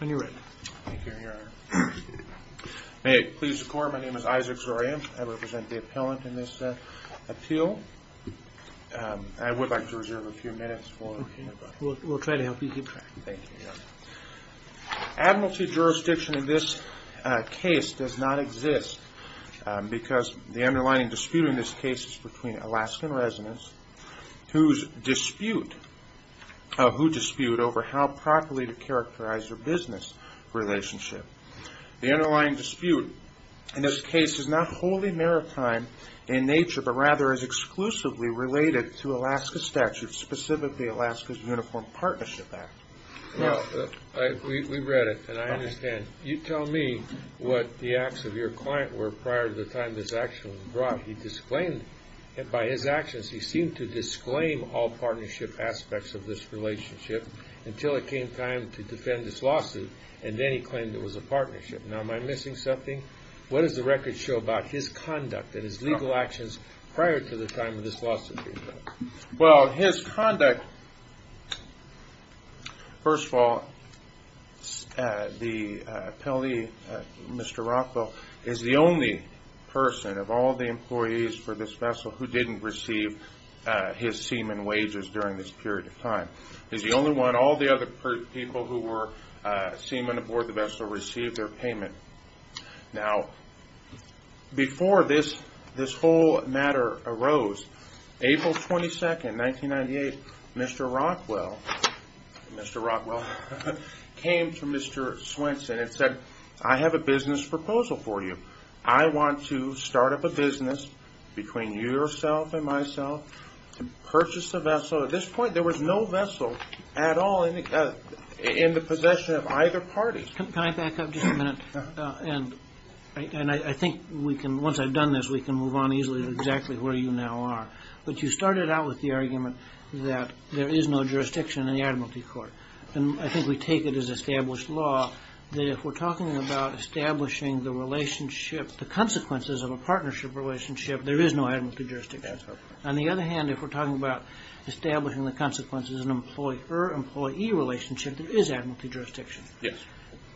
May it please the court, my name is Isaac Zorian, I represent the appellant in this appeal. I would like to reserve a few minutes. We'll try to help you keep track. Thank you. Admiralty jurisdiction in this case does not exist because the underlying dispute in this case is between Alaskan residents who dispute over how properly to characterize their business relationship. The underlying dispute in this case is not wholly maritime in nature but rather is exclusively related to Alaska statutes, specifically Alaska's Uniform Partnership Act. We read it and I understand. You tell me what the acts of your client were prior to the time this action was brought. He disclaimed, by his actions he seemed to disclaim all partnership aspects of this relationship until it came time to defend this lawsuit and then he claimed it was a partnership. Now am I missing something? What does the record show about his conduct and his legal actions prior to the time of this lawsuit? Well his conduct, first of all the appellee, Mr. Rockwell, is the only person of all the employees for this vessel who didn't receive his seaman wages during this period of time. He's the only one, all the other people who were seaman aboard the vessel received their payment. Now before this whole matter arose, April 22, 1998, Mr. Rockwell, Mr. Rockwell came to Mr. Swenson and said I have a business proposal for you. I want to start up a business between yourself and myself to purchase a vessel. At this point there was no vessel at all in the possession of either party. Can I back up just a minute? And I think once I've done this we can move on easily to exactly where you now are. But you started out with the argument that there is no jurisdiction in the admiralty court. And I think we take it as established law that if we're talking about establishing the relationship, the consequences of a partnership relationship, there is no admiralty jurisdiction. That's right. On the other hand if we're talking about establishing the consequences of an employer-employee relationship, there is admiralty jurisdiction. Yes.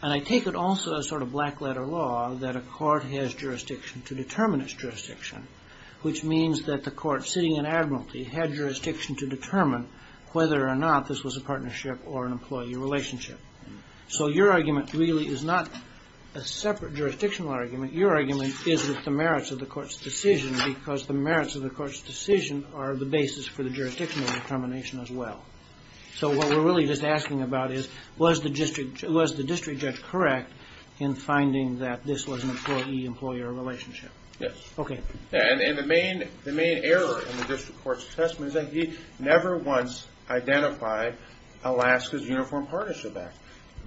And I take it also as sort of black letter law that a court has jurisdiction to determine its jurisdiction, which means that the court sitting in admiralty had jurisdiction to determine whether or not this was a partnership or an employee relationship. So your argument really is not a separate jurisdictional argument. Your argument is that the merits of the court's decision, because the merits of the court's decision are the basis for the jurisdictional determination as well. So what we're really just asking about is was the district judge correct in finding that this was an employee-employee relationship? Yes. Okay. And the main error in the district court's assessment is that he never once identified Alaska's Uniform Partnership Act.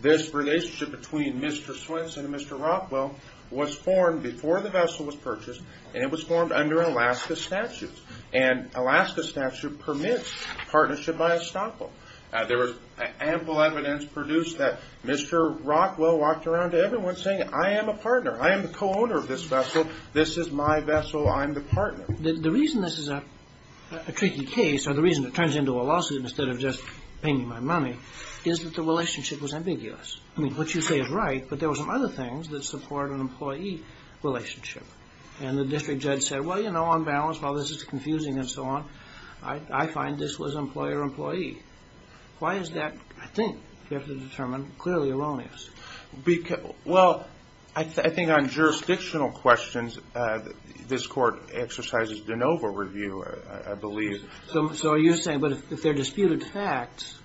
This relationship between Mr. Swenson and Mr. Rockwell was formed before the vessel was purchased, and it was formed under Alaska statutes. And Alaska statute permits partnership by estoppel. There was ample evidence produced that Mr. Rockwell walked around to everyone saying, I am a partner. I am the co-owner of this vessel. This is my vessel. I'm the partner. The reason this is a tricky case, or the reason it turns into a lawsuit instead of just paying me my money, is that the relationship was ambiguous. I mean, what you say is right, but there were some other things that support an employee relationship. And the district judge said, well, you know, on balance, while this is I find this was employer-employee. Why is that, I think, you have to determine, clearly erroneous? Well, I think on jurisdictional questions, this court exercises de novo review, I believe. So you're saying, but if they're disputed facts,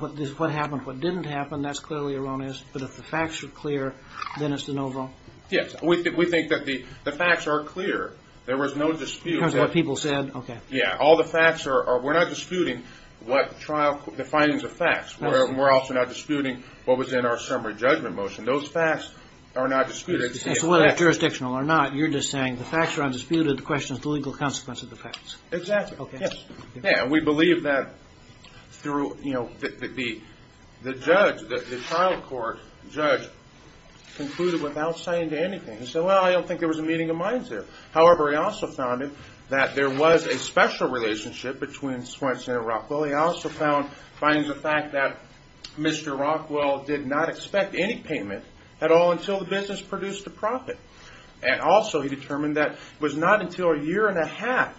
what happened, what didn't happen, that's clearly erroneous, but if the facts are clear, then it's de novo? Yes. We think that the facts are clear. There was no dispute. It was what people said? Okay. Yeah. All the facts are, we're not disputing what trial, the findings of facts. We're also not disputing what was in our summary judgment motion. Those facts are not disputed. So whether jurisdictional or not, you're just saying the facts are undisputed, the question is the legal consequence of the facts. Exactly. Yes. Yeah. We believe that through, you know, the judge, the trial court judge concluded without saying anything. He said, well, I don't think there was a meeting of minds there. However, he also found that there was a special relationship between Swenson and Rockwell. He also found, finding the fact that Mr. Rockwell did not expect any payment at all until the business produced a profit. And also he determined that it was not until a year and a half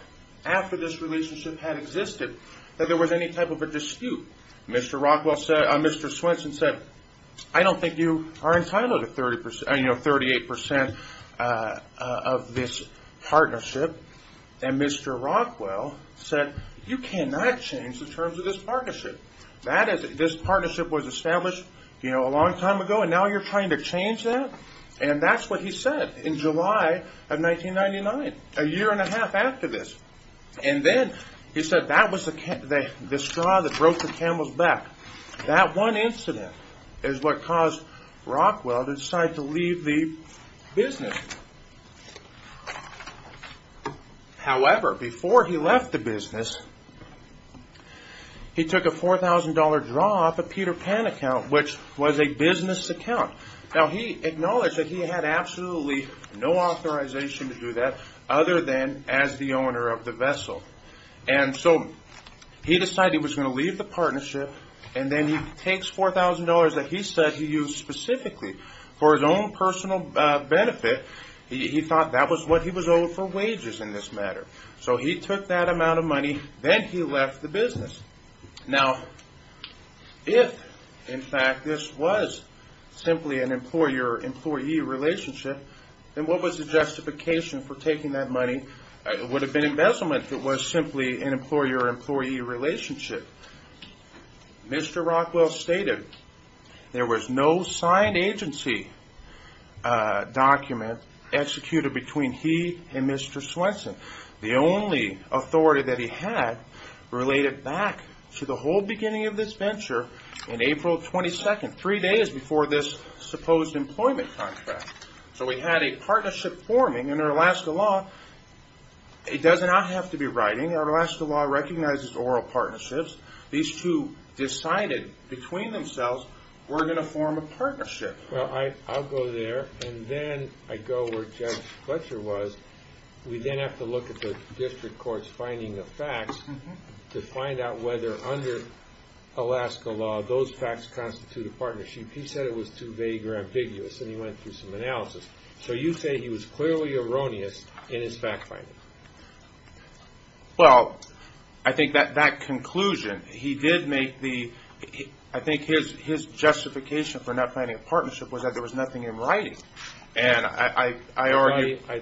after this relationship had existed that there was any type of a dispute. Mr. Rockwell said, Mr. Swenson said, I don't think you are entitled to 30%, you know, 38% of this partnership. And Mr. Rockwell said, you cannot change the terms of this partnership. That is, this partnership was established, you know, a long time ago and now you're trying to change that? And that's what he said in July of 1999, a year and a half after this. And then he said that was the straw that broke the camel's back. That one incident is what caused Rockwell to decide to leave the business. However, before he left the business, he took a $4,000 draw off a Peter Pan account, which was a business account. Now he acknowledged that he had absolutely no authorization to do that other than as the owner of the vessel. And so he decided he was going to leave the partnership and then he takes $4,000 that he said he used specifically for his own personal benefit. He thought that was what he was owed for wages in this matter. So he took that amount of money, then he left the business. Now, if in fact this was simply an employer-employee relationship, then what was the justification for taking that money? It would have been embezzlement if it was simply an employer-employee relationship. Mr. Rockwell stated there was no signed agency document executed between he and Mr. Swenson. The only authority that he had related back to the whole beginning of this venture in April 22nd, three days before this supposed employment contract. So we had a partnership forming in our Alaska law. It does not have to be writing. Our Alaska law recognizes oral partnerships. These two decided between themselves, we're going to form a partnership. Well, I'll go there and then I go where Judge Fletcher was. We then have to look at the district courts finding the facts to find out whether under Alaska law, those facts constitute a partnership. He said it was too vague or ambiguous and he went through some analysis. So you say he was clearly erroneous in his fact-finding. Well, I think that conclusion, he did make the, I think his justification for not finding a partnership was that there was nothing in writing. I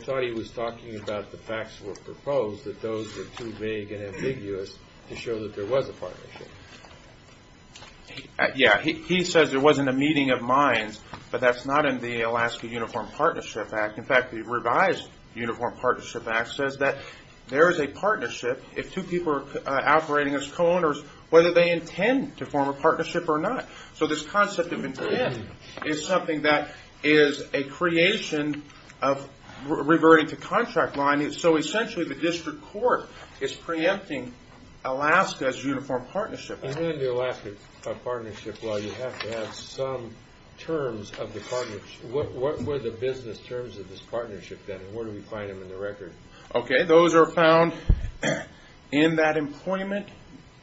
thought he was talking about the facts were proposed that those were too vague and ambiguous to show that there was a partnership. He says there wasn't a meeting of minds, but that's not in the Alaska Uniform Partnership Act. In fact, the revised Uniform Partnership Act says that there is a partnership if two people are operating as co-owners, whether they intend to form a partnership or not. So this concept of intent is something that is a creation of reverting to contract line. So essentially, the district court is preempting Alaska's Uniform Partnership Act. In the Alaska partnership law, you have to have some terms of the partnership. What were the business terms of this partnership then and where do we find them in the record? Those are found in that employment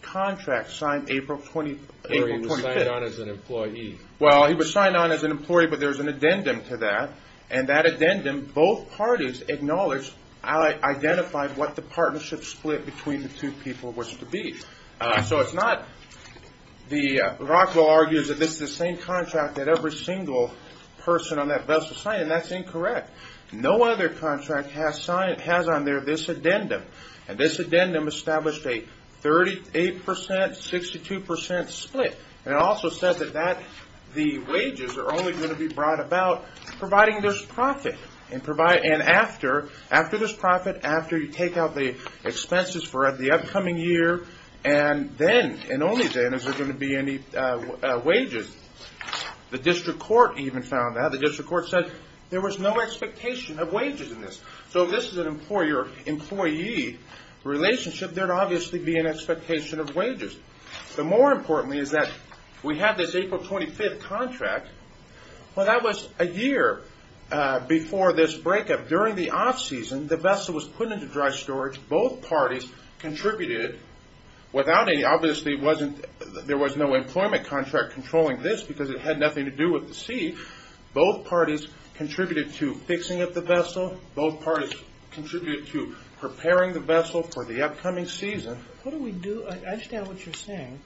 contract signed April 25th. Where he was signed on as an employee. Well, he was signed on as an employee, but there was an addendum to that. And that addendum, both parties acknowledged, identified what the partnership split between the two people was to be. So it's not, the Rockwell argues that this is the same contract that every single person on that vessel signed, and that's incorrect. No other contract has signed, has on there this addendum. And this addendum established a 38%, 62% split. And it also says that that, the wages are only going to be brought about providing this profit. And after, after this profit, after you take out the expenses for the upcoming year, and then, and only then, is there going to be any wages. The district court even found that. The district court said there was no expectation of wages in this. So if this is an employer-employee relationship, there would obviously be an expectation of wages. The more important thing is that we have this April 25th contract. Well, that was a year before this breakup. During the off-season, the vessel was put into dry storage. Both parties contributed. Without any, obviously it wasn't, there was no employment contract controlling this because it had nothing to do with the sea. Both parties contributed to fixing up the vessel. Both parties contributed to preparing the vessel for the upcoming season. What do we do? I understand what you're saying.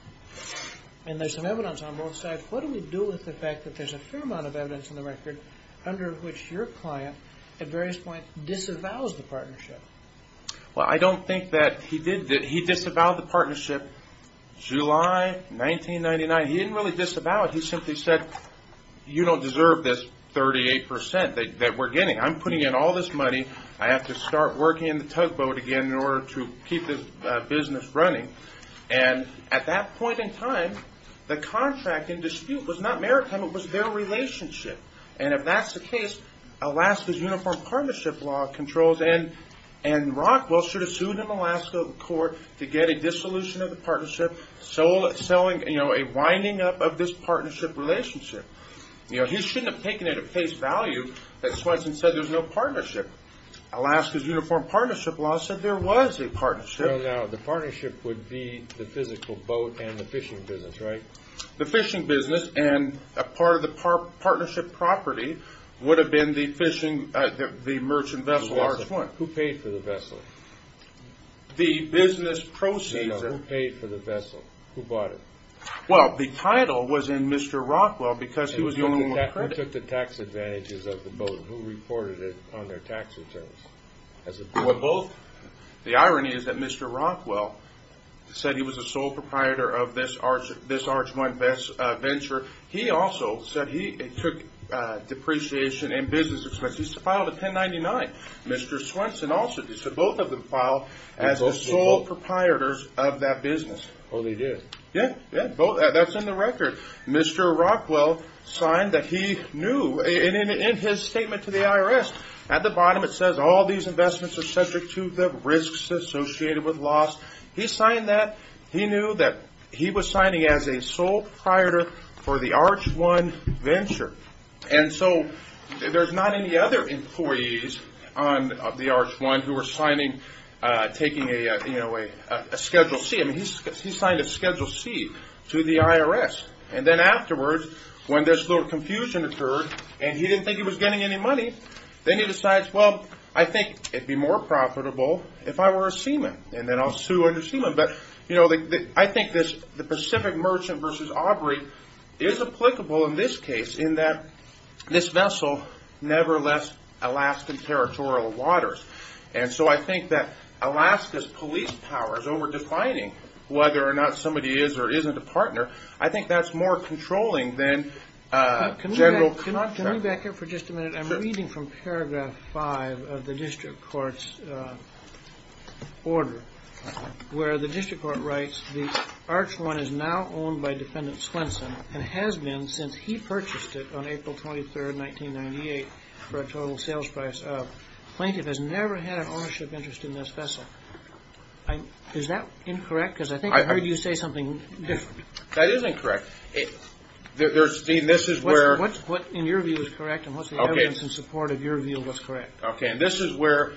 And there's some evidence on both sides. What do we do with the fact that there's a fair amount of evidence in the record under which your client, at various points, disavows the partnership? Well, I don't think that he did. He disavowed the partnership July 1999. He didn't really disavow it. He simply said, you don't deserve this 38% that we're getting. I'm putting in all this money. I have to start working in the tugboat again in order to keep this business running. And at that point in time, the contract in dispute was not maritime. It was their relationship. And if that's the case, Alaska's Uniform Partnership Law controls. And Rockwell should have sued him in the last court to get a dissolution of the partnership, a winding up of this partnership relationship. He shouldn't have taken it at face value that Swenson said there's no partnership. Alaska's Uniform Partnership Law said there was a partnership. No, no. The partnership would be the physical boat and the fishing business, right? The fishing business and a part of the partnership property would have been the fishing, the merchant vessel, large one. Who paid for the vessel? The business proceeds are... No, who paid for the vessel? Who bought it? Well, the title was in Mr. Rockwell because he was the only one accredited. Who took the tax advantages of the boat? Who reported it on their tax returns? The irony is that Mr. Rockwell said he was the sole proprietor of this large one venture. He also said he took depreciation and business expenses. He filed a 1099. Mr. Swenson also did. So both of them filed as the sole proprietors of that business. Oh, they did? Yeah, yeah. That's in the record. Mr. Rockwell signed that he knew. In his statement to the IRS, at the bottom it says all these investments are subject to the risks associated with loss. He signed that. He knew that he was signing as a sole proprietor for the Arch One venture. And so there's not any other employees of the Arch One who are signing, taking a Schedule C. I mean, he signed a Schedule C to the IRS. And then afterwards, when this little confusion occurred, and he didn't think he was getting any money, then he decides, well, I think it'd be more profitable if I were a seaman, and then I'll sue under seaman. But, you know, I think this Pacific Merchant versus Aubrey is applicable in this case in that this vessel never left Alaskan territorial waters. And so I think that Alaska's police power is over-defining whether or not somebody is or isn't a partner. I think that's more controlling than general contract. Can we back up for just a minute? I'm reading from paragraph 5 of the district court's order, where the district court writes, the Arch One is now owned by Defendant Swenson, and has been since he purchased it on April 23, 1998, for a total sales price of. Plaintiff has never had an ownership interest in this vessel. Is that incorrect? Because I think I heard you say something different. That is incorrect. Dean, this is where. What in your view is correct, and what's the evidence in support of your view was correct? Okay, and this is where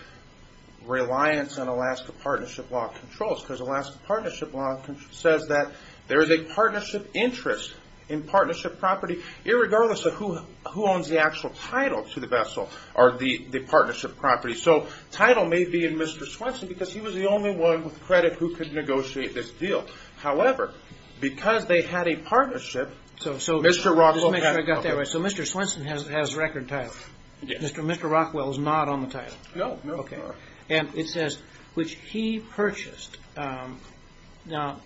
reliance on Alaska Partnership Law controls, because Alaska Partnership Law says that there is a partnership interest in partnership property, irregardless of who owns the actual title to the vessel, or the partnership property. So title may be in Mr. Swenson, because he was the only one with credit who could negotiate this deal. However, because they had a partnership, Mr. Rockwell. Just to make sure I got that right, so Mr. Swenson has record title. Mr. Rockwell is not on the title. No, no. Okay. And it says, which he purchased. Now,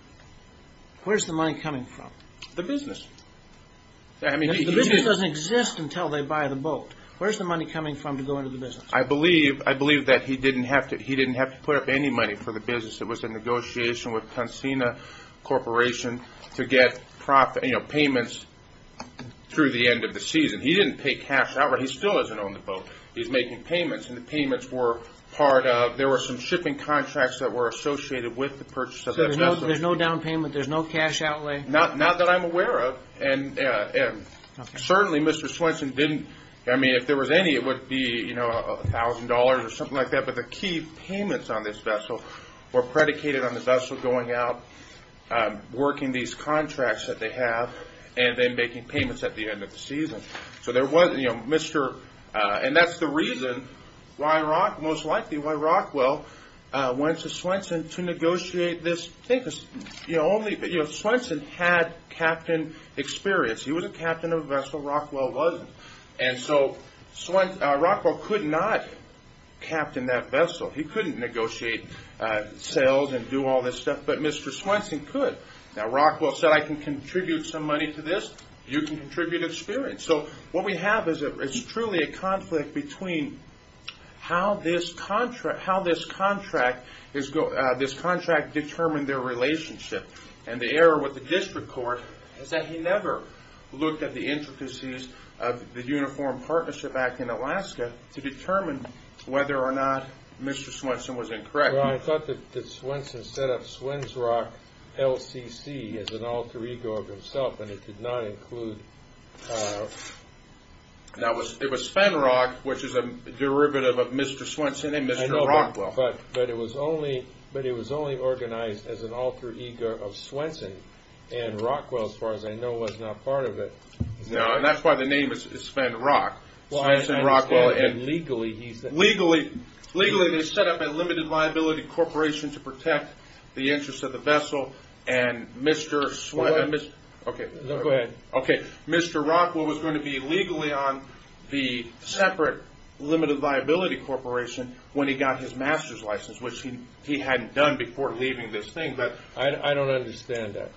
where's the money coming from? The business. The business doesn't exist until they buy the boat. Where's the money coming from to go into the business? I believe that he didn't have to put up any money for the business. It was a negotiation with Tansina Corporation to get payments through the end of the season. He didn't pay cash out, but he still doesn't own the boat. He's making payments, and the payments were part of, there were some shipping contracts that were associated with the purchase of the vessel. So there's no down payment, there's no cash outlay? Not that I'm aware of. And certainly, Mr. Swenson didn't, I mean, if there was any, it would be $1,000 or something like that, but the key payments on this vessel were predicated on the vessel going out, working these contracts that they have, and then making payments at the end of the season. And that's the reason why Rock, most likely why Rockwell, went to Swenson to negotiate this thing, because Swenson had captain experience. He was a captain of a vessel, Rockwell wasn't, and so Rockwell could not captain that vessel. He couldn't negotiate sales and do all this stuff, but Mr. Swenson could. Now, Rockwell said, I can contribute some money to this, you can contribute experience. So what we have is truly a conflict between how this contract determined their relationship, and the error with the district court is that he never looked at the intricacies of the Uniform Partnership Act in Alaska to determine whether or not Mr. Swenson was incorrect. Well, I thought that Swenson set up Swensrock LCC as an alter ego of himself, and it did not include... That was, it was Spenrock, which is a derivative of Mr. Swenson and Mr. Rockwell. But it was only organized as an alter ego of Swenson, and Rockwell, as far as I know, was not part of it. No, and that's why the name is Spenrock, Swenson, Rockwell, and legally, they set up a limited liability corporation to protect the interests of the vessel, and Mr. Swenson, Mr. Rockwell was going to be legally on the separate limited liability corporation when he got his master's license, which he hadn't done before leaving this thing, but... I don't understand that.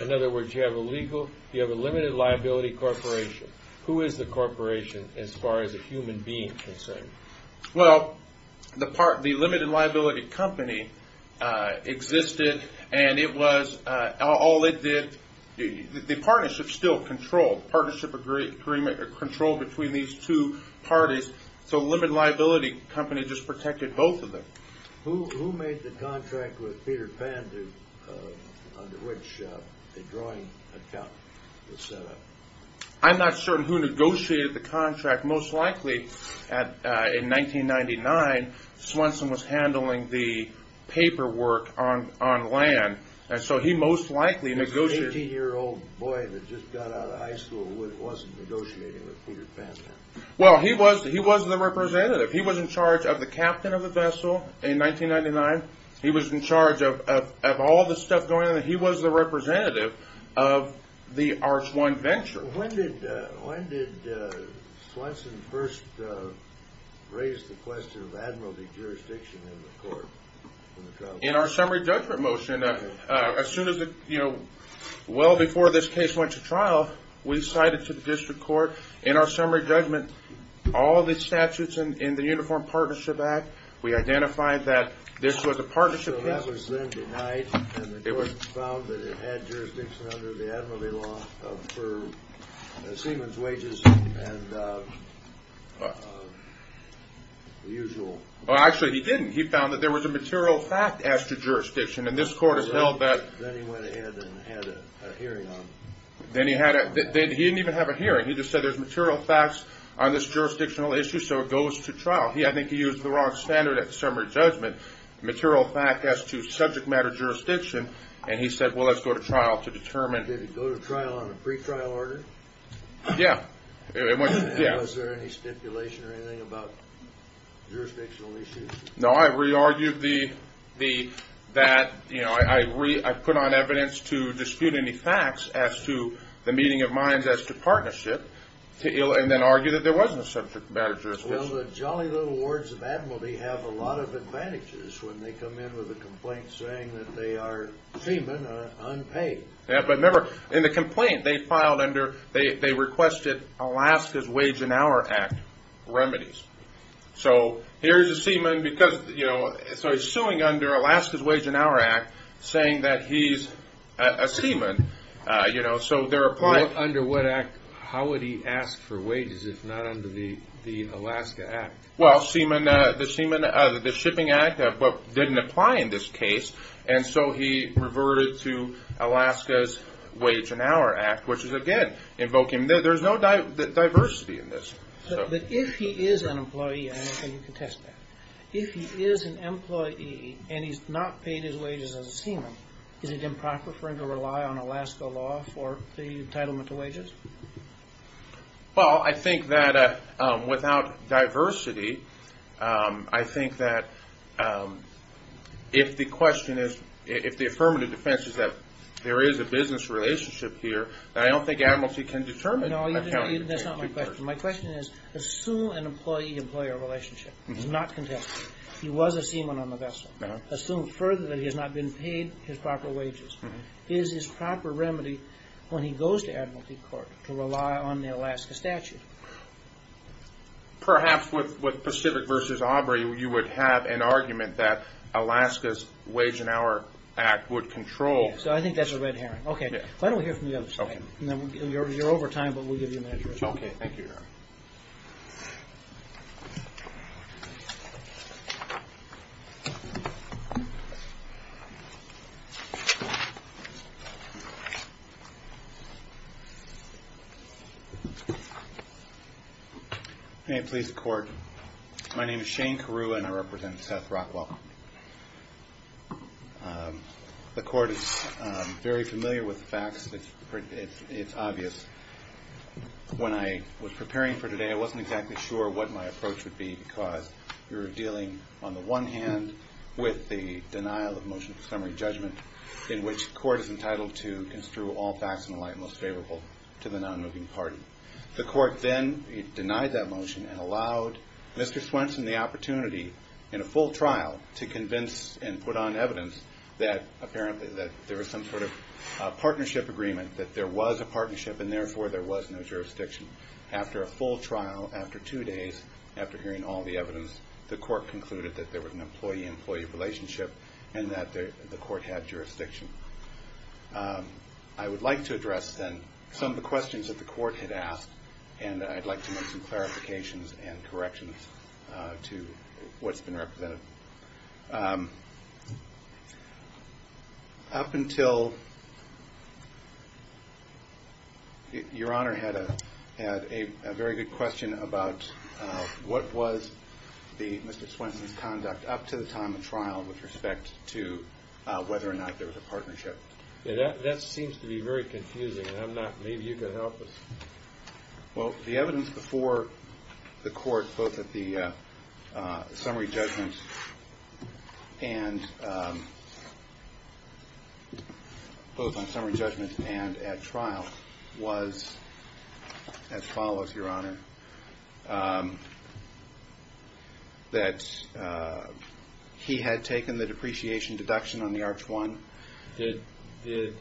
In other words, you have a legal, you have a limited liability corporation. Who is the corporation as far as a human being is concerned? Well, the limited liability company existed, and it was, all it did, the partnership still controlled, partnership agreement controlled between these two parties, so the limited liability company just protected both of them. Who made the contract with Peter Pan to, under which the drawing account was set up? I'm not certain who negotiated the contract. Most likely, in 1999, Swenson was handling the paperwork on land, and so he most likely negotiated... The guy that just got out of high school wasn't negotiating with Peter Pan? Well, he was the representative. He was in charge of the captain of the vessel in 1999. He was in charge of all the stuff going on. He was the representative of the Arch One Venture. When did Swenson first raise the question of admiralty jurisdiction in the court? In our summary judgment motion, as soon as, well before this case went to trial, we cited to the district court, in our summary judgment, all the statutes in the Uniform Partnership Act, we identified that this was a partnership case. So that was then denied, and the court found that it had jurisdiction under the admiralty law for Seaman's wages and the usual. Well, actually, he didn't. He found that there was a material fact as to jurisdiction, and this court has held that... Then he went ahead and had a hearing on it. Then he didn't even have a hearing. He just said there's material facts on this jurisdictional issue, so it goes to trial. I think he used the wrong standard at the summary judgment, material fact as to subject matter jurisdiction, and he said, well, let's go to trial to determine... Did it go to trial on a pre-trial order? Yeah. Was there any stipulation or anything about jurisdictional issues? No, I re-argued that I put on evidence to dispute any facts as to the meeting of minds as to partnership, and then argued that there wasn't a subject matter jurisdiction. Well, the jolly little wards of Admiralty have a lot of advantages when they come in with a complaint saying that they are Seaman, unpaid. But remember, in the complaint, they requested Alaska's Wage and Hour Act remedies. So here's a Seaman, so he's suing under Alaska's Wage and Hour Act, saying that he's a Seaman, so they're applying... Under what act? How would he ask for wages if not under the Alaska Act? Well, Seaman... The Seaman... The Shipping Act didn't apply in this case, and so he reverted to Alaska's Wage and Hour Act, which is, again, invoking... There's no diversity in this. But if he is an employee, I don't think you can test that. If he is an employee and he's not paid his wages as a Seaman, is it improper for him to rely on Alaska law for the entitlement to wages? Well, I think that without diversity, I think that if the question is... If the affirmative defense is that there is a business relationship here, then I don't think Admiralty can determine... No, that's not my question. My question is, assume an employee-employee relationship. It's not contested. He was a Seaman on the vessel. Assume further that he has not been paid his proper wages. Is his proper remedy when he goes to Admiralty Court to rely on the Alaska statute? Perhaps with Pacific v. Aubrey, you would have an argument that Alaska's Wage and Hour Act would control... So I think that's a red herring. Okay. Why don't we hear from the other side? You're over time, but we'll give you a minute to respond. Okay. Thank you, Your Honor. May it please the Court, my name is Shane Carew, and I represent Seth Rockwell. The Court is very familiar with the facts. It's obvious. When I was preparing for today, I wasn't exactly sure what my approach would be because we were dealing, on the one hand, with the denial of motion for summary judgment in which the Court is entitled to construe all facts in the light most favorable to the non-moving party. The Court then denied that motion and allowed Mr. Swenson the opportunity, in a full trial, to convince and put on evidence that apparently there was some sort of partnership agreement, that there was a partnership and therefore there was no jurisdiction. After a full trial, after two days, after hearing all the evidence, the Court concluded that there was an employee-employee relationship and that the Court had jurisdiction. I would like to address, then, some of the questions that the Court had asked, and I'd like to make some clarifications and corrections to what's been represented. Up until your Honor had a very good question about what was Mr. Swenson's conduct up to the time of trial, with respect to whether or not there was a partnership. That seems to be very confusing, and I'm not – maybe you could help us. Well, the evidence before the Court, both at the summary judgment and at trial, was as follows, Your Honor, that he had taken the depreciation deduction on the Arch 1. Did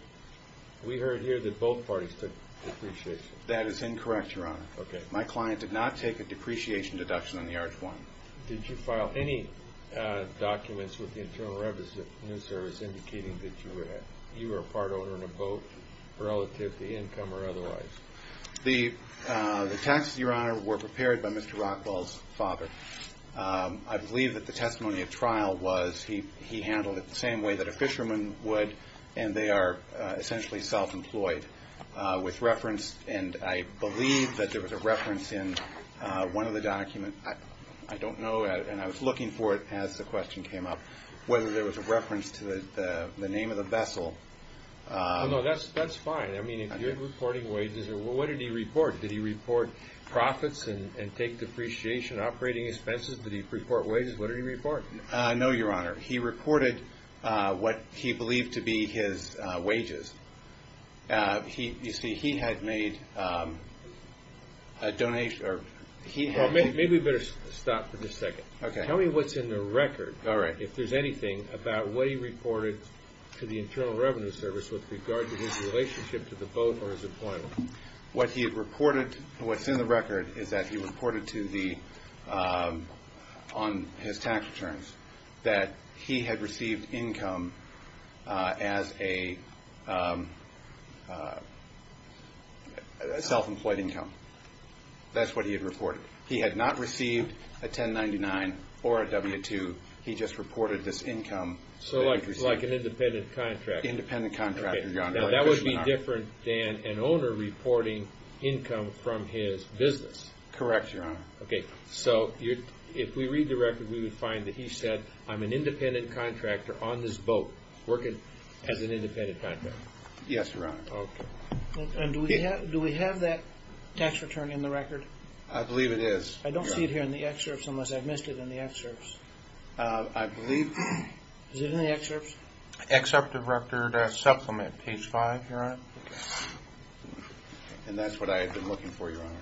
– we heard here that both parties took depreciation. That is incorrect, Your Honor. Okay. My client did not take a depreciation deduction on the Arch 1. Did you file any documents with the Internal Revenue Service indicating that you were a part owner in a boat relative to income or otherwise? The taxes, Your Honor, were prepared by Mr. Rockwell's father. I believe that the testimony at trial was he handled it the same way that a fisherman would, and they are essentially self-employed. With reference – and I believe that there was a reference in one of the documents. I don't know, and I was looking for it as the question came up, whether there was a reference to the name of the vessel. No, that's fine. I mean, if you're reporting wages, what did he report? Did he report profits and take depreciation operating expenses? Did he report wages? What did he report? No, Your Honor. He reported what he believed to be his wages. You see, he had made a donation – Well, maybe we better stop for just a second. Okay. Tell me what's in the record. All right. If there's anything about what he reported to the Internal Revenue Service with regard to his relationship to the boat or his employment. What he had reported – what's in the record is that he reported to the – on his tax returns that he had received income as a self-employed income. That's what he had reported. He had not received a 1099 or a W-2. He just reported this income that he received. So like an independent contractor. Independent contractor, Your Honor. Now, that would be different than an owner reporting income from his business. Correct, Your Honor. Okay. So if we read the record, we would find that he said, I'm an independent contractor on this boat working as an independent contractor. Yes, Your Honor. Okay. And do we have that tax return in the record? I believe it is, Your Honor. I don't see it here in the excerpts unless I've missed it in the excerpts. I believe – Is it in the excerpts? Excerpt of record supplement, page 5, Your Honor. Okay. And that's what I had been looking for, Your Honor.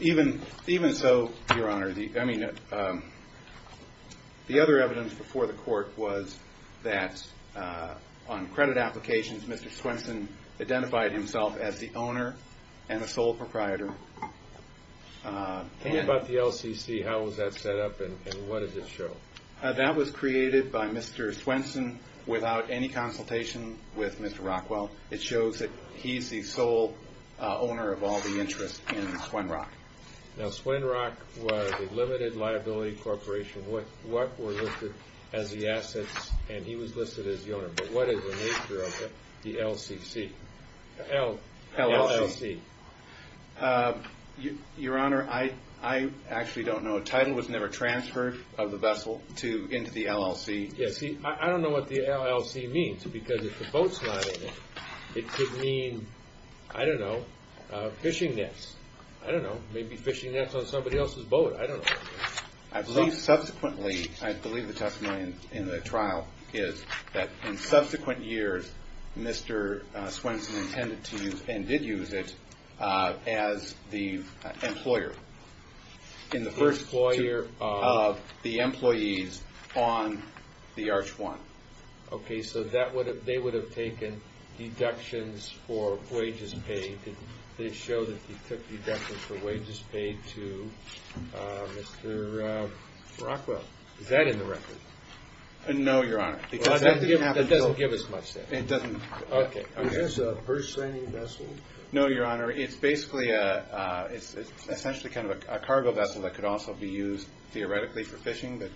Even so, Your Honor, the other evidence before the court was that on credit applications, Mr. Swenson identified himself as the owner and a sole proprietor. And about the LCC, how was that set up and what does it show? That was created by Mr. Swenson without any consultation with Mr. Rockwell. It shows that he's the sole owner of all the interest in Swinrock. Now, Swinrock was a limited liability corporation. What were listed as the assets? And he was listed as the owner. But what is the nature of the LCC? LLC. Your Honor, I actually don't know. A title was never transferred of the vessel into the LLC. Yeah, see, I don't know what the LLC means because if the boat's not in it, it could mean, I don't know, fishing nets. I don't know. Maybe fishing nets on somebody else's boat. I don't know. Subsequently, I believe the testimony in the trial is that in subsequent years, Mr. Swenson intended to use and did use it as the employer. In the first two of the employees on the Arch 1. Okay, so they would have taken deductions for wages paid. They showed that he took deductions for wages paid to Mr. Rockwell. Is that in the record? No, Your Honor. That doesn't give us much then. It doesn't. Okay. Is this a purse-selling vessel? No, Your Honor. It's essentially kind of a cargo vessel that could also be used theoretically for fishing. But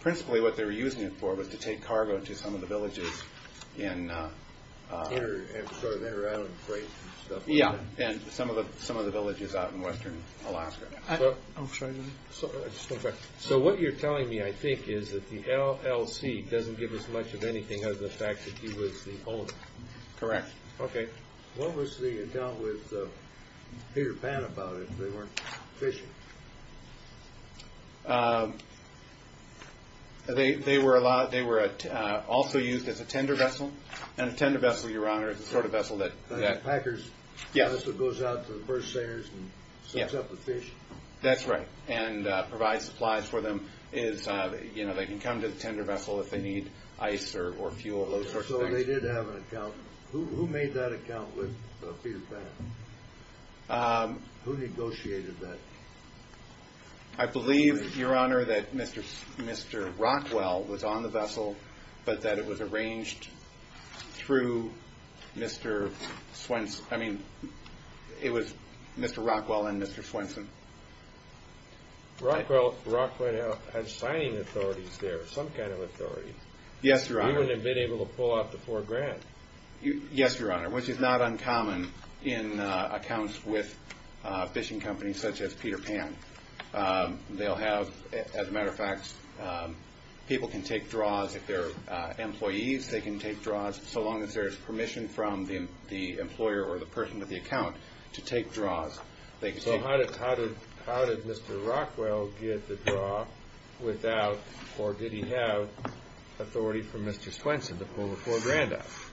principally what they were using it for was to take cargo to some of the villages. They were out of grace and stuff like that. Yeah, and some of the villages out in western Alaska. I'm sorry. I just want to correct you. So what you're telling me, I think, is that the LLC doesn't give us much of anything other than the fact that he was the owner. Correct. Okay. What was the account with Peter Pan about it if they weren't fishing? They were also used as a tender vessel. And a tender vessel, Your Honor, is the sort of vessel that... Packers also goes out to the purse-sellers and sets up the fish. That's right, and provides supplies for them. They can come to the tender vessel if they need ice or fuel, those sorts of things. So they did have an account. Who made that account with Peter Pan? Who negotiated that? I believe, Your Honor, that Mr. Rockwell was on the vessel, but that it was arranged through Mr. Swenson. I mean, it was Mr. Rockwell and Mr. Swenson. Rockwell had signing authorities there, some kind of authority. Yes, Your Honor. He wouldn't have been able to pull off the four grand. Yes, Your Honor, which is not uncommon in accounts with fishing companies such as Peter Pan. They'll have, as a matter of fact, people can take draws if they're employees. They can take draws so long as there's permission from the employer or the person with the account to take draws. So how did Mr. Rockwell get the draw without, or did he have, authority from Mr. Swenson to pull the four grand off?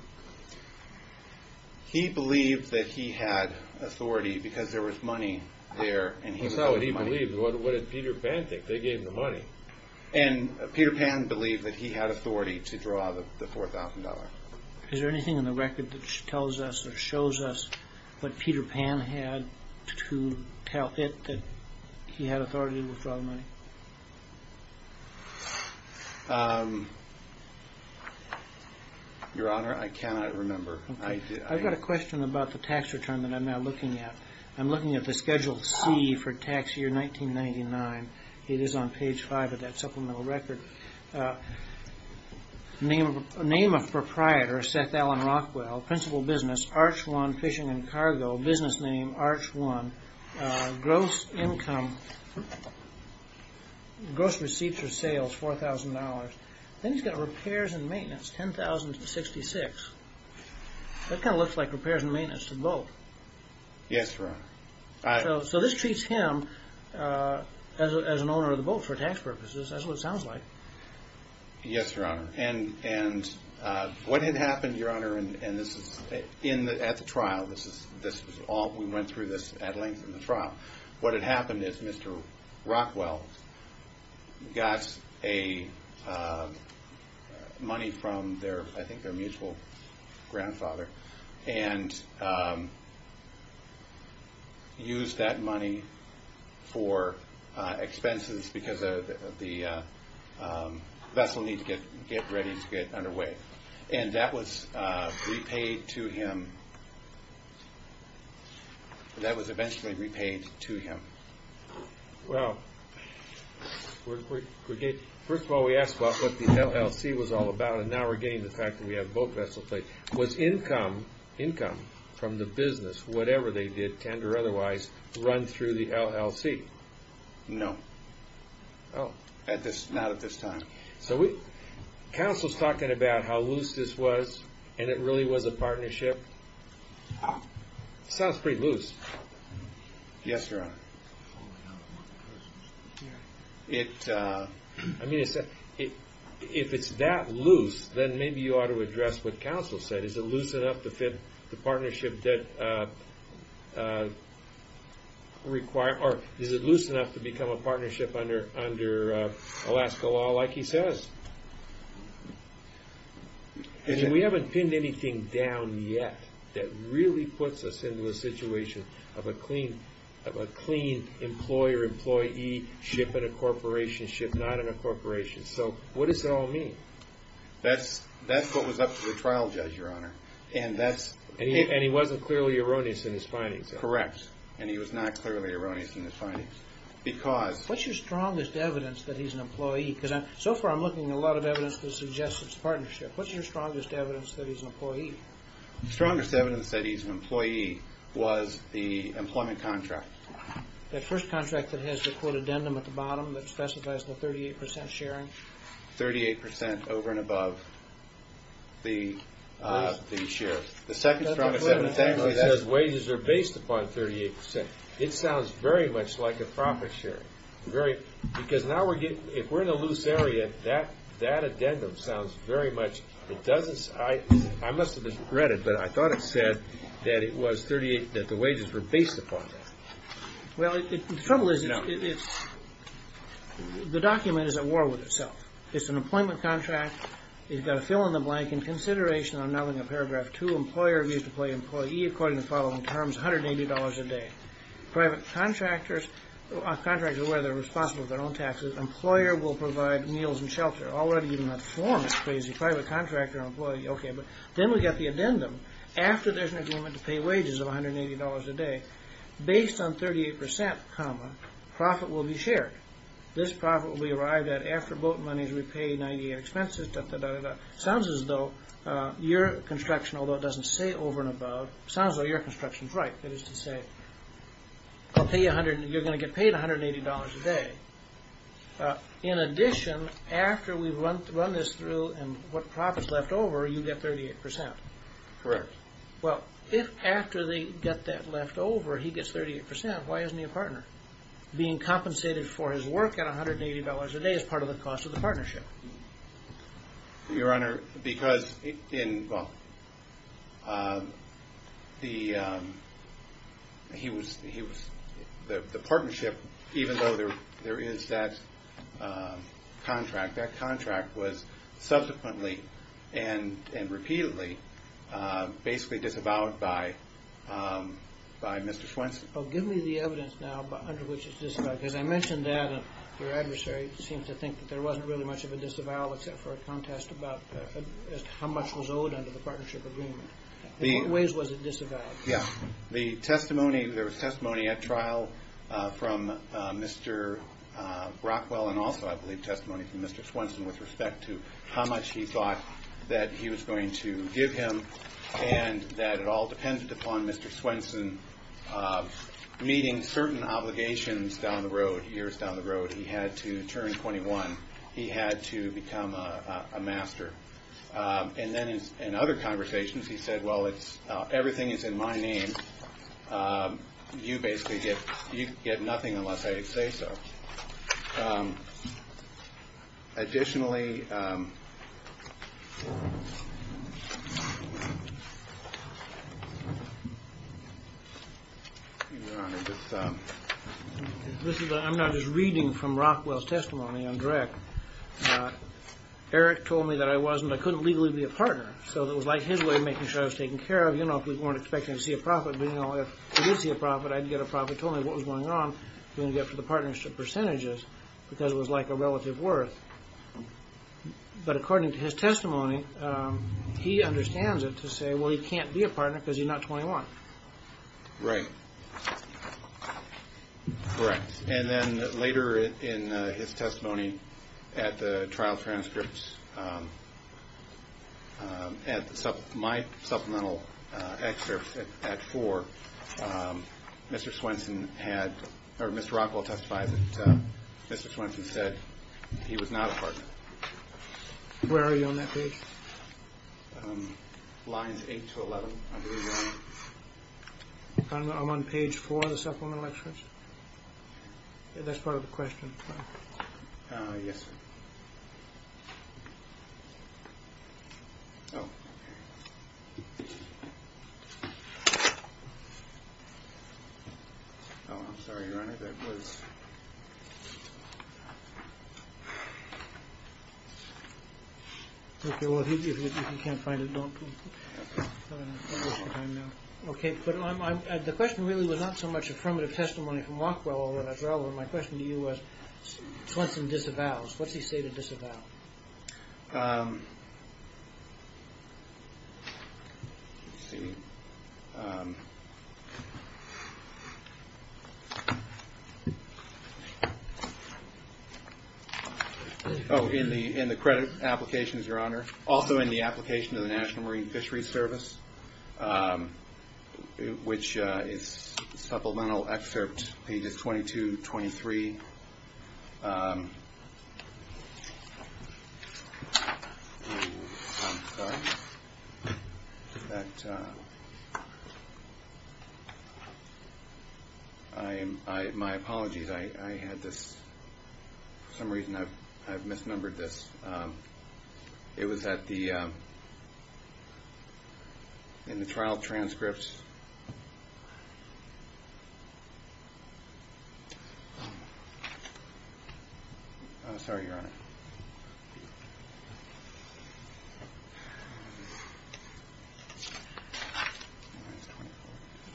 He believed that he had authority because there was money there. That's not what he believed. What did Peter Pan think? They gave him the money. And Peter Pan believed that he had authority to draw the $4,000. Is there anything in the record that tells us or shows us what Peter Pan had to tell it that he had authority to draw the money? Your Honor, I cannot remember. Okay. I've got a question about the tax return that I'm now looking at. I'm looking at the Schedule C for tax year 1999. It is on page five of that supplemental record. Name of proprietor, Seth Alan Rockwell. Principal business, Arch One Fishing and Cargo. Business name, Arch One. Gross income, gross receipts or sales, $4,000. Then he's got repairs and maintenance, $10,066. That kind of looks like repairs and maintenance to the boat. Yes, Your Honor. So this treats him as an owner of the boat for tax purposes. That's what it sounds like. Yes, Your Honor. And what had happened, Your Honor, and this is at the trial. What had happened is Mr. Rockwell got money from, I think, their mutual grandfather and used that money for expenses because of the vessel need to get ready to get underway. And that was repaid to him. That was eventually repaid to him. Well, first of all, we asked about what the LLC was all about, and now we're getting to the fact that we have a boat vessel plate. Was income from the business, whatever they did, tender or otherwise, run through the LLC? No. Oh. Not at this time. Counsel's talking about how loose this was, and it really was a partnership. Sounds pretty loose. Yes, Your Honor. I mean, if it's that loose, then maybe you ought to address what counsel said. Is it loose enough to fit the partnership that required or is it loose enough to become a partnership under Alaska law like he says? We haven't pinned anything down yet that really puts us into a situation of a clean employer-employee ship and a corporation ship not in a corporation. So what does it all mean? That's what was up to the trial judge, Your Honor. And he wasn't clearly erroneous in his findings. Correct. And he was not clearly erroneous in his findings. What's your strongest evidence that he's an employee? Because so far I'm looking at a lot of evidence that suggests it's a partnership. What's your strongest evidence that he's an employee? The strongest evidence that he's an employee was the employment contract. That first contract that has the quote addendum at the bottom that specifies the 38% sharing? 38% over and above the share. The second strongest evidence is that wages are based upon 38%. It sounds very much like a profit sharing. Because now if we're in a loose area, that addendum sounds very much. I must have misread it, but I thought it said that the wages were based upon that. Well, the trouble is the document is at war with itself. It's an employment contract. You've got to fill in the blank. In consideration, I'm now going to Paragraph 2. Employer views to play employee according to the following terms. $180 a day. Private contractors are aware they're responsible for their own taxes. Employer will provide meals and shelter. Already even that form is crazy. Private contractor and employee. Okay, but then we've got the addendum. After there's an agreement to pay wages of $180 a day, based on 38%, profit will be shared. This profit will be arrived at after boat money is repaid, 98 expenses, da-da-da-da-da. It sounds as though your construction, although it doesn't say over and above, it sounds as though your construction is right. That is to say, you're going to get paid $180 a day. In addition, after we run this through and what profit is left over, you get 38%. Correct. Well, if after they get that left over, he gets 38%, why isn't he a partner? Being compensated for his work at $180 a day is part of the cost of the partnership. Your Honor, because the partnership, even though there is that contract, that contract was subsequently and repeatedly basically disavowed by Mr. Swenson. Give me the evidence now under which it's disavowed, because I mentioned that. Your adversary seems to think that there wasn't really much of a disavow except for a contest about how much was owed under the partnership agreement. In what ways was it disavowed? The testimony, there was testimony at trial from Mr. Rockwell and also, I believe, testimony from Mr. Swenson with respect to how much he thought that he was going to give him and that it all depended upon Mr. Swenson meeting certain obligations down the road, years down the road. He had to turn 21. He had to become a master. And then in other conversations, he said, well, everything is in my name. You basically get nothing unless I say so. Additionally, Your Honor, I'm not just reading from Rockwell's testimony, I'm direct. Eric told me that I wasn't, I couldn't legally be a partner. So it was like his way of making sure I was taken care of, you know, if we weren't expecting to see a profit. But, you know, if we did see a profit, I'd get a profit. So he told me what was going on. He didn't get to the partnership percentages because it was like a relative worth. But according to his testimony, he understands it to say, well, he can't be a partner because he's not 21. Right. Correct. And then later in his testimony at the trial transcripts, my supplemental excerpt at four, Mr. Swenson had, or Mr. Rockwell testified that Mr. Swenson said he was not a partner. Where are you on that page? Lines eight to 11. I'm on page four of the supplemental excerpts. That's part of the question. Yes. Oh. I'm sorry, your honor, that was. OK, well, if you can't find it, don't. OK, but the question really was not so much affirmative testimony from Rockwell. My question to you was Swenson disavows. What's he say to disavow? Oh, in the in the credit applications, your honor. Also in the application to the National Marine Fisheries Service, which is supplemental excerpt pages 22, 23. I am. My apologies. I had this for some reason. I've misnumbered this. It was at the. In the trial transcripts. Sorry, your honor.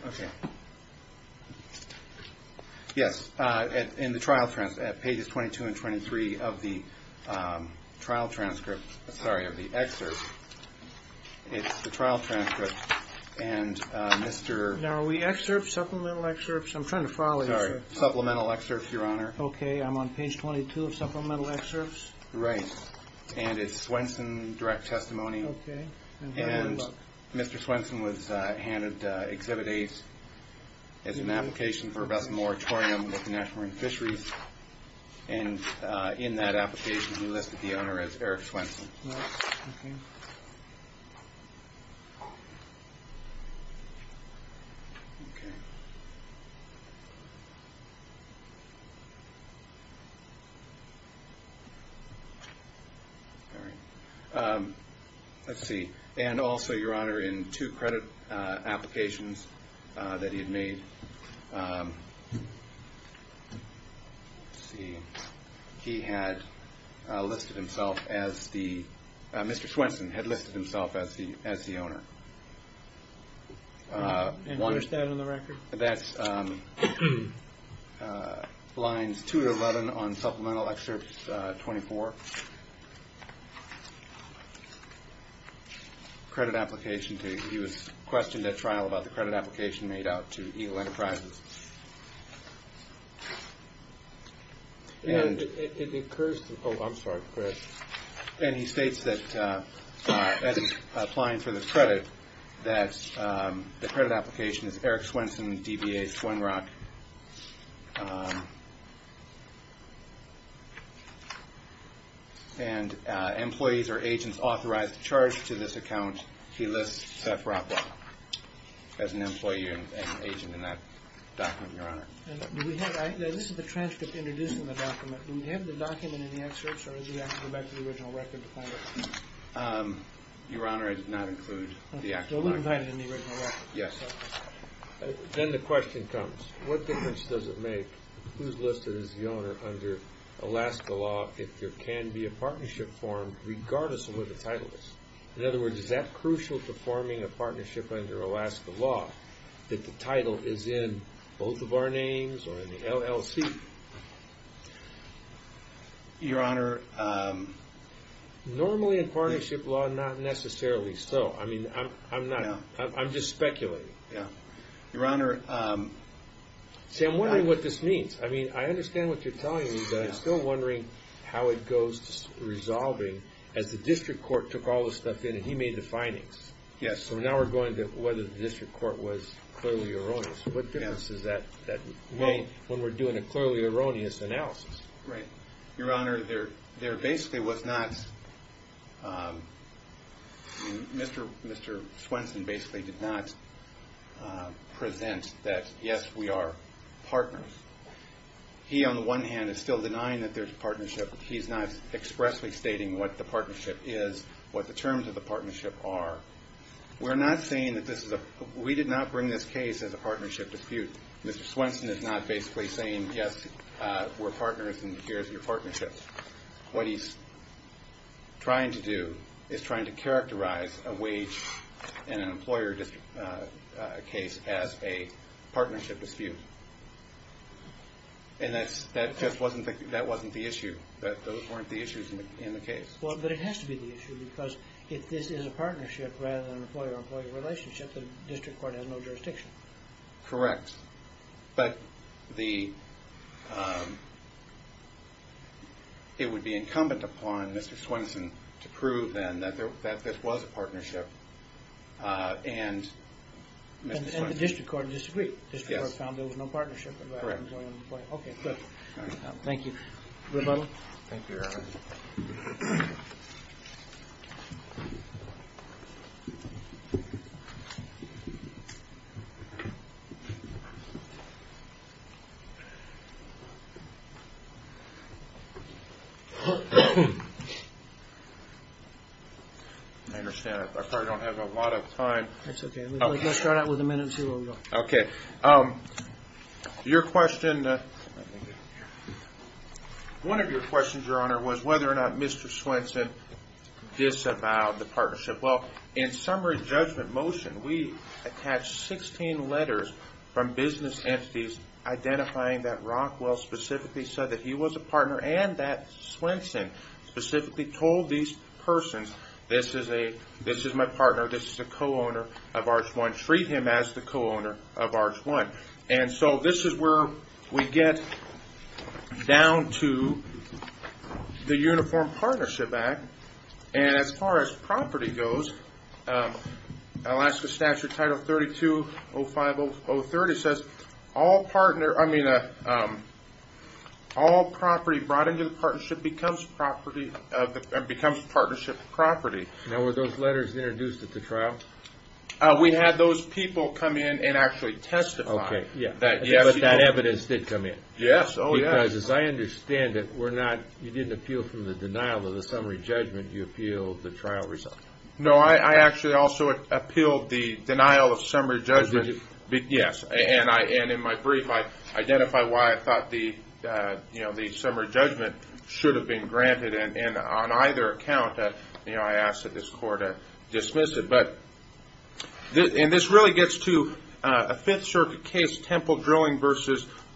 OK. Yes. In the trial transcript pages 22 and 23 of the trial transcript. Sorry of the excerpt. It's the trial transcript. And Mr. Now we excerpt supplemental excerpts. I'm trying to follow. Sorry. Supplemental excerpts, your honor. OK, I'm on page 22 of supplemental excerpts. Right. And it's Swenson direct testimony. OK. And Mr. Swenson was handed exhibit eight as an application for best moratorium with the National Marine Fisheries. And in that application, he listed the owner as Eric Swenson. OK. OK. All right. Let's see. And also, your honor, in two credit applications that he had made. Let's see. He had listed himself as the Mr. Swenson had listed himself as the as the owner. And what is that on the record? That's lines two to 11 on supplemental excerpts. Twenty four. Credit application. He was questioned at trial about the credit application made out to Eagle Enterprises. And it occurs. Oh, I'm sorry. And he states that as applying for the credit, that the credit application is Eric Swenson. Swenrock. And employees or agents authorized to charge to this account. He lists as an employee and agent in that document. Your honor. This is the transcript introducing the document. We have the document in the excerpts or the original record. Your honor. Yes. Then the question comes. What difference does it make? Who's listed as the owner under Alaska law? If there can be a partnership formed regardless of what the title is. In other words, is that crucial to forming a partnership under Alaska law? That the title is in both of our names or in the LLC? Your honor. Normally in partnership law, not necessarily so. I mean, I'm not. I'm just speculating. Your honor. See, I'm wondering what this means. I mean, I understand what you're telling me, but I'm still wondering how it goes to resolving. As the district court took all this stuff in and he made the findings. Yes. So now we're going to whether the district court was clearly erroneous. What difference does that make when we're doing a clearly erroneous analysis? Right. Your honor, there basically was not. Mr. Swenson basically did not present that, yes, we are partners. He, on the one hand, is still denying that there's a partnership. He's not expressly stating what the partnership is, what the terms of the partnership are. We're not saying that this is a. We did not bring this case as a partnership dispute. Mr. Swenson is not basically saying, yes, we're partners and here's your partnership. What he's trying to do is trying to characterize a wage and an employer case as a partnership dispute. And that just wasn't the issue. Those weren't the issues in the case. Well, but it has to be the issue because if this is a partnership rather than an employer-employee relationship, the district court has no jurisdiction. Correct. But it would be incumbent upon Mr. Swenson to prove then that this was a partnership. And the district court disagreed. The district court found there was no partnership. Correct. Okay, good. Thank you. Rebuttal. Thank you, your honor. I understand. I probably don't have a lot of time. That's okay. Let's start out with a minute and see where we go. Okay. Your question, one of your questions, your honor, was whether or not Mr. Swenson disavowed the partnership. Well, in summary judgment motion, we attached 16 letters from business entities identifying that Rockwell specifically said that he was a partner and that Swenson specifically told these persons, this is my partner, this is a co-owner of Arch 1. Treat him as the co-owner of Arch 1. And so this is where we get down to the Uniform Partnership Act. And as far as property goes, Alaska Statute Title 320503, it says all property brought into the partnership becomes partnership property. Now, were those letters introduced at the trial? We had those people come in and actually testify. Okay. But that evidence did come in. Yes. Oh, yes. As I understand it, you didn't appeal from the denial of the summary judgment. You appealed the trial result. No, I actually also appealed the denial of summary judgment. Did you? Yes. And in my brief, I identify why I thought the summary judgment should have been granted. And on either account, I asked that this court dismiss it. And this really gets to a Fifth Circuit case, Temple Drilling v.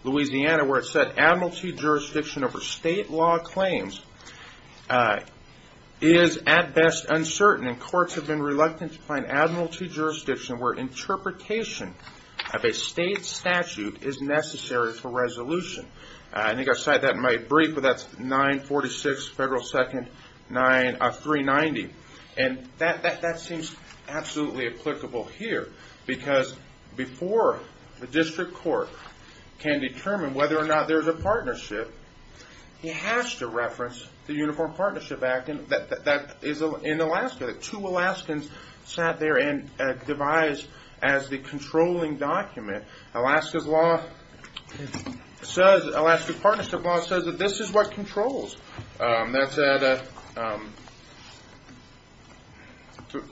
Louisiana, where it said admiralty jurisdiction over state law claims is at best uncertain and courts have been reluctant to find admiralty jurisdiction where interpretation of a state statute is necessary for resolution. I think I cited that in my brief, but that's 946 Federal 2nd 390. And that seems absolutely applicable here, because before the district court can determine whether or not there's a partnership, he has to reference the Uniform Partnership Act that is in Alaska, that two Alaskans sat there and devised as the controlling document. Alaska's law says, Alaska's partnership law says that this is what controls. That's at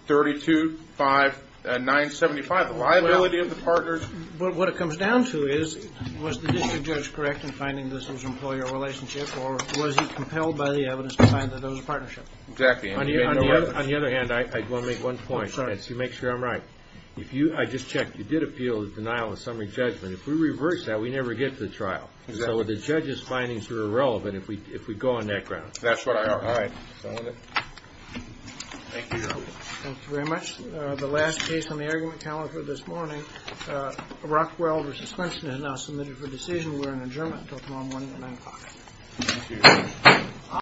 325.975. The liability of the partners. What it comes down to is, was the district judge correct in finding this was an employer relationship or was he compelled by the evidence to find that it was a partnership? Exactly. On the other hand, I want to make one point. Make sure I'm right. I just checked. You did appeal the denial of summary judgment. If we reverse that, we never get to the trial. So the judge's findings are irrelevant if we go on that ground. That's what I heard. All right. Thank you, Your Honor. Thank you very much. The last case on the argument calendar this morning, Rockwell v. Finchman is now submitted for decision. We're in adjournment until tomorrow morning at 9 o'clock. Thank you.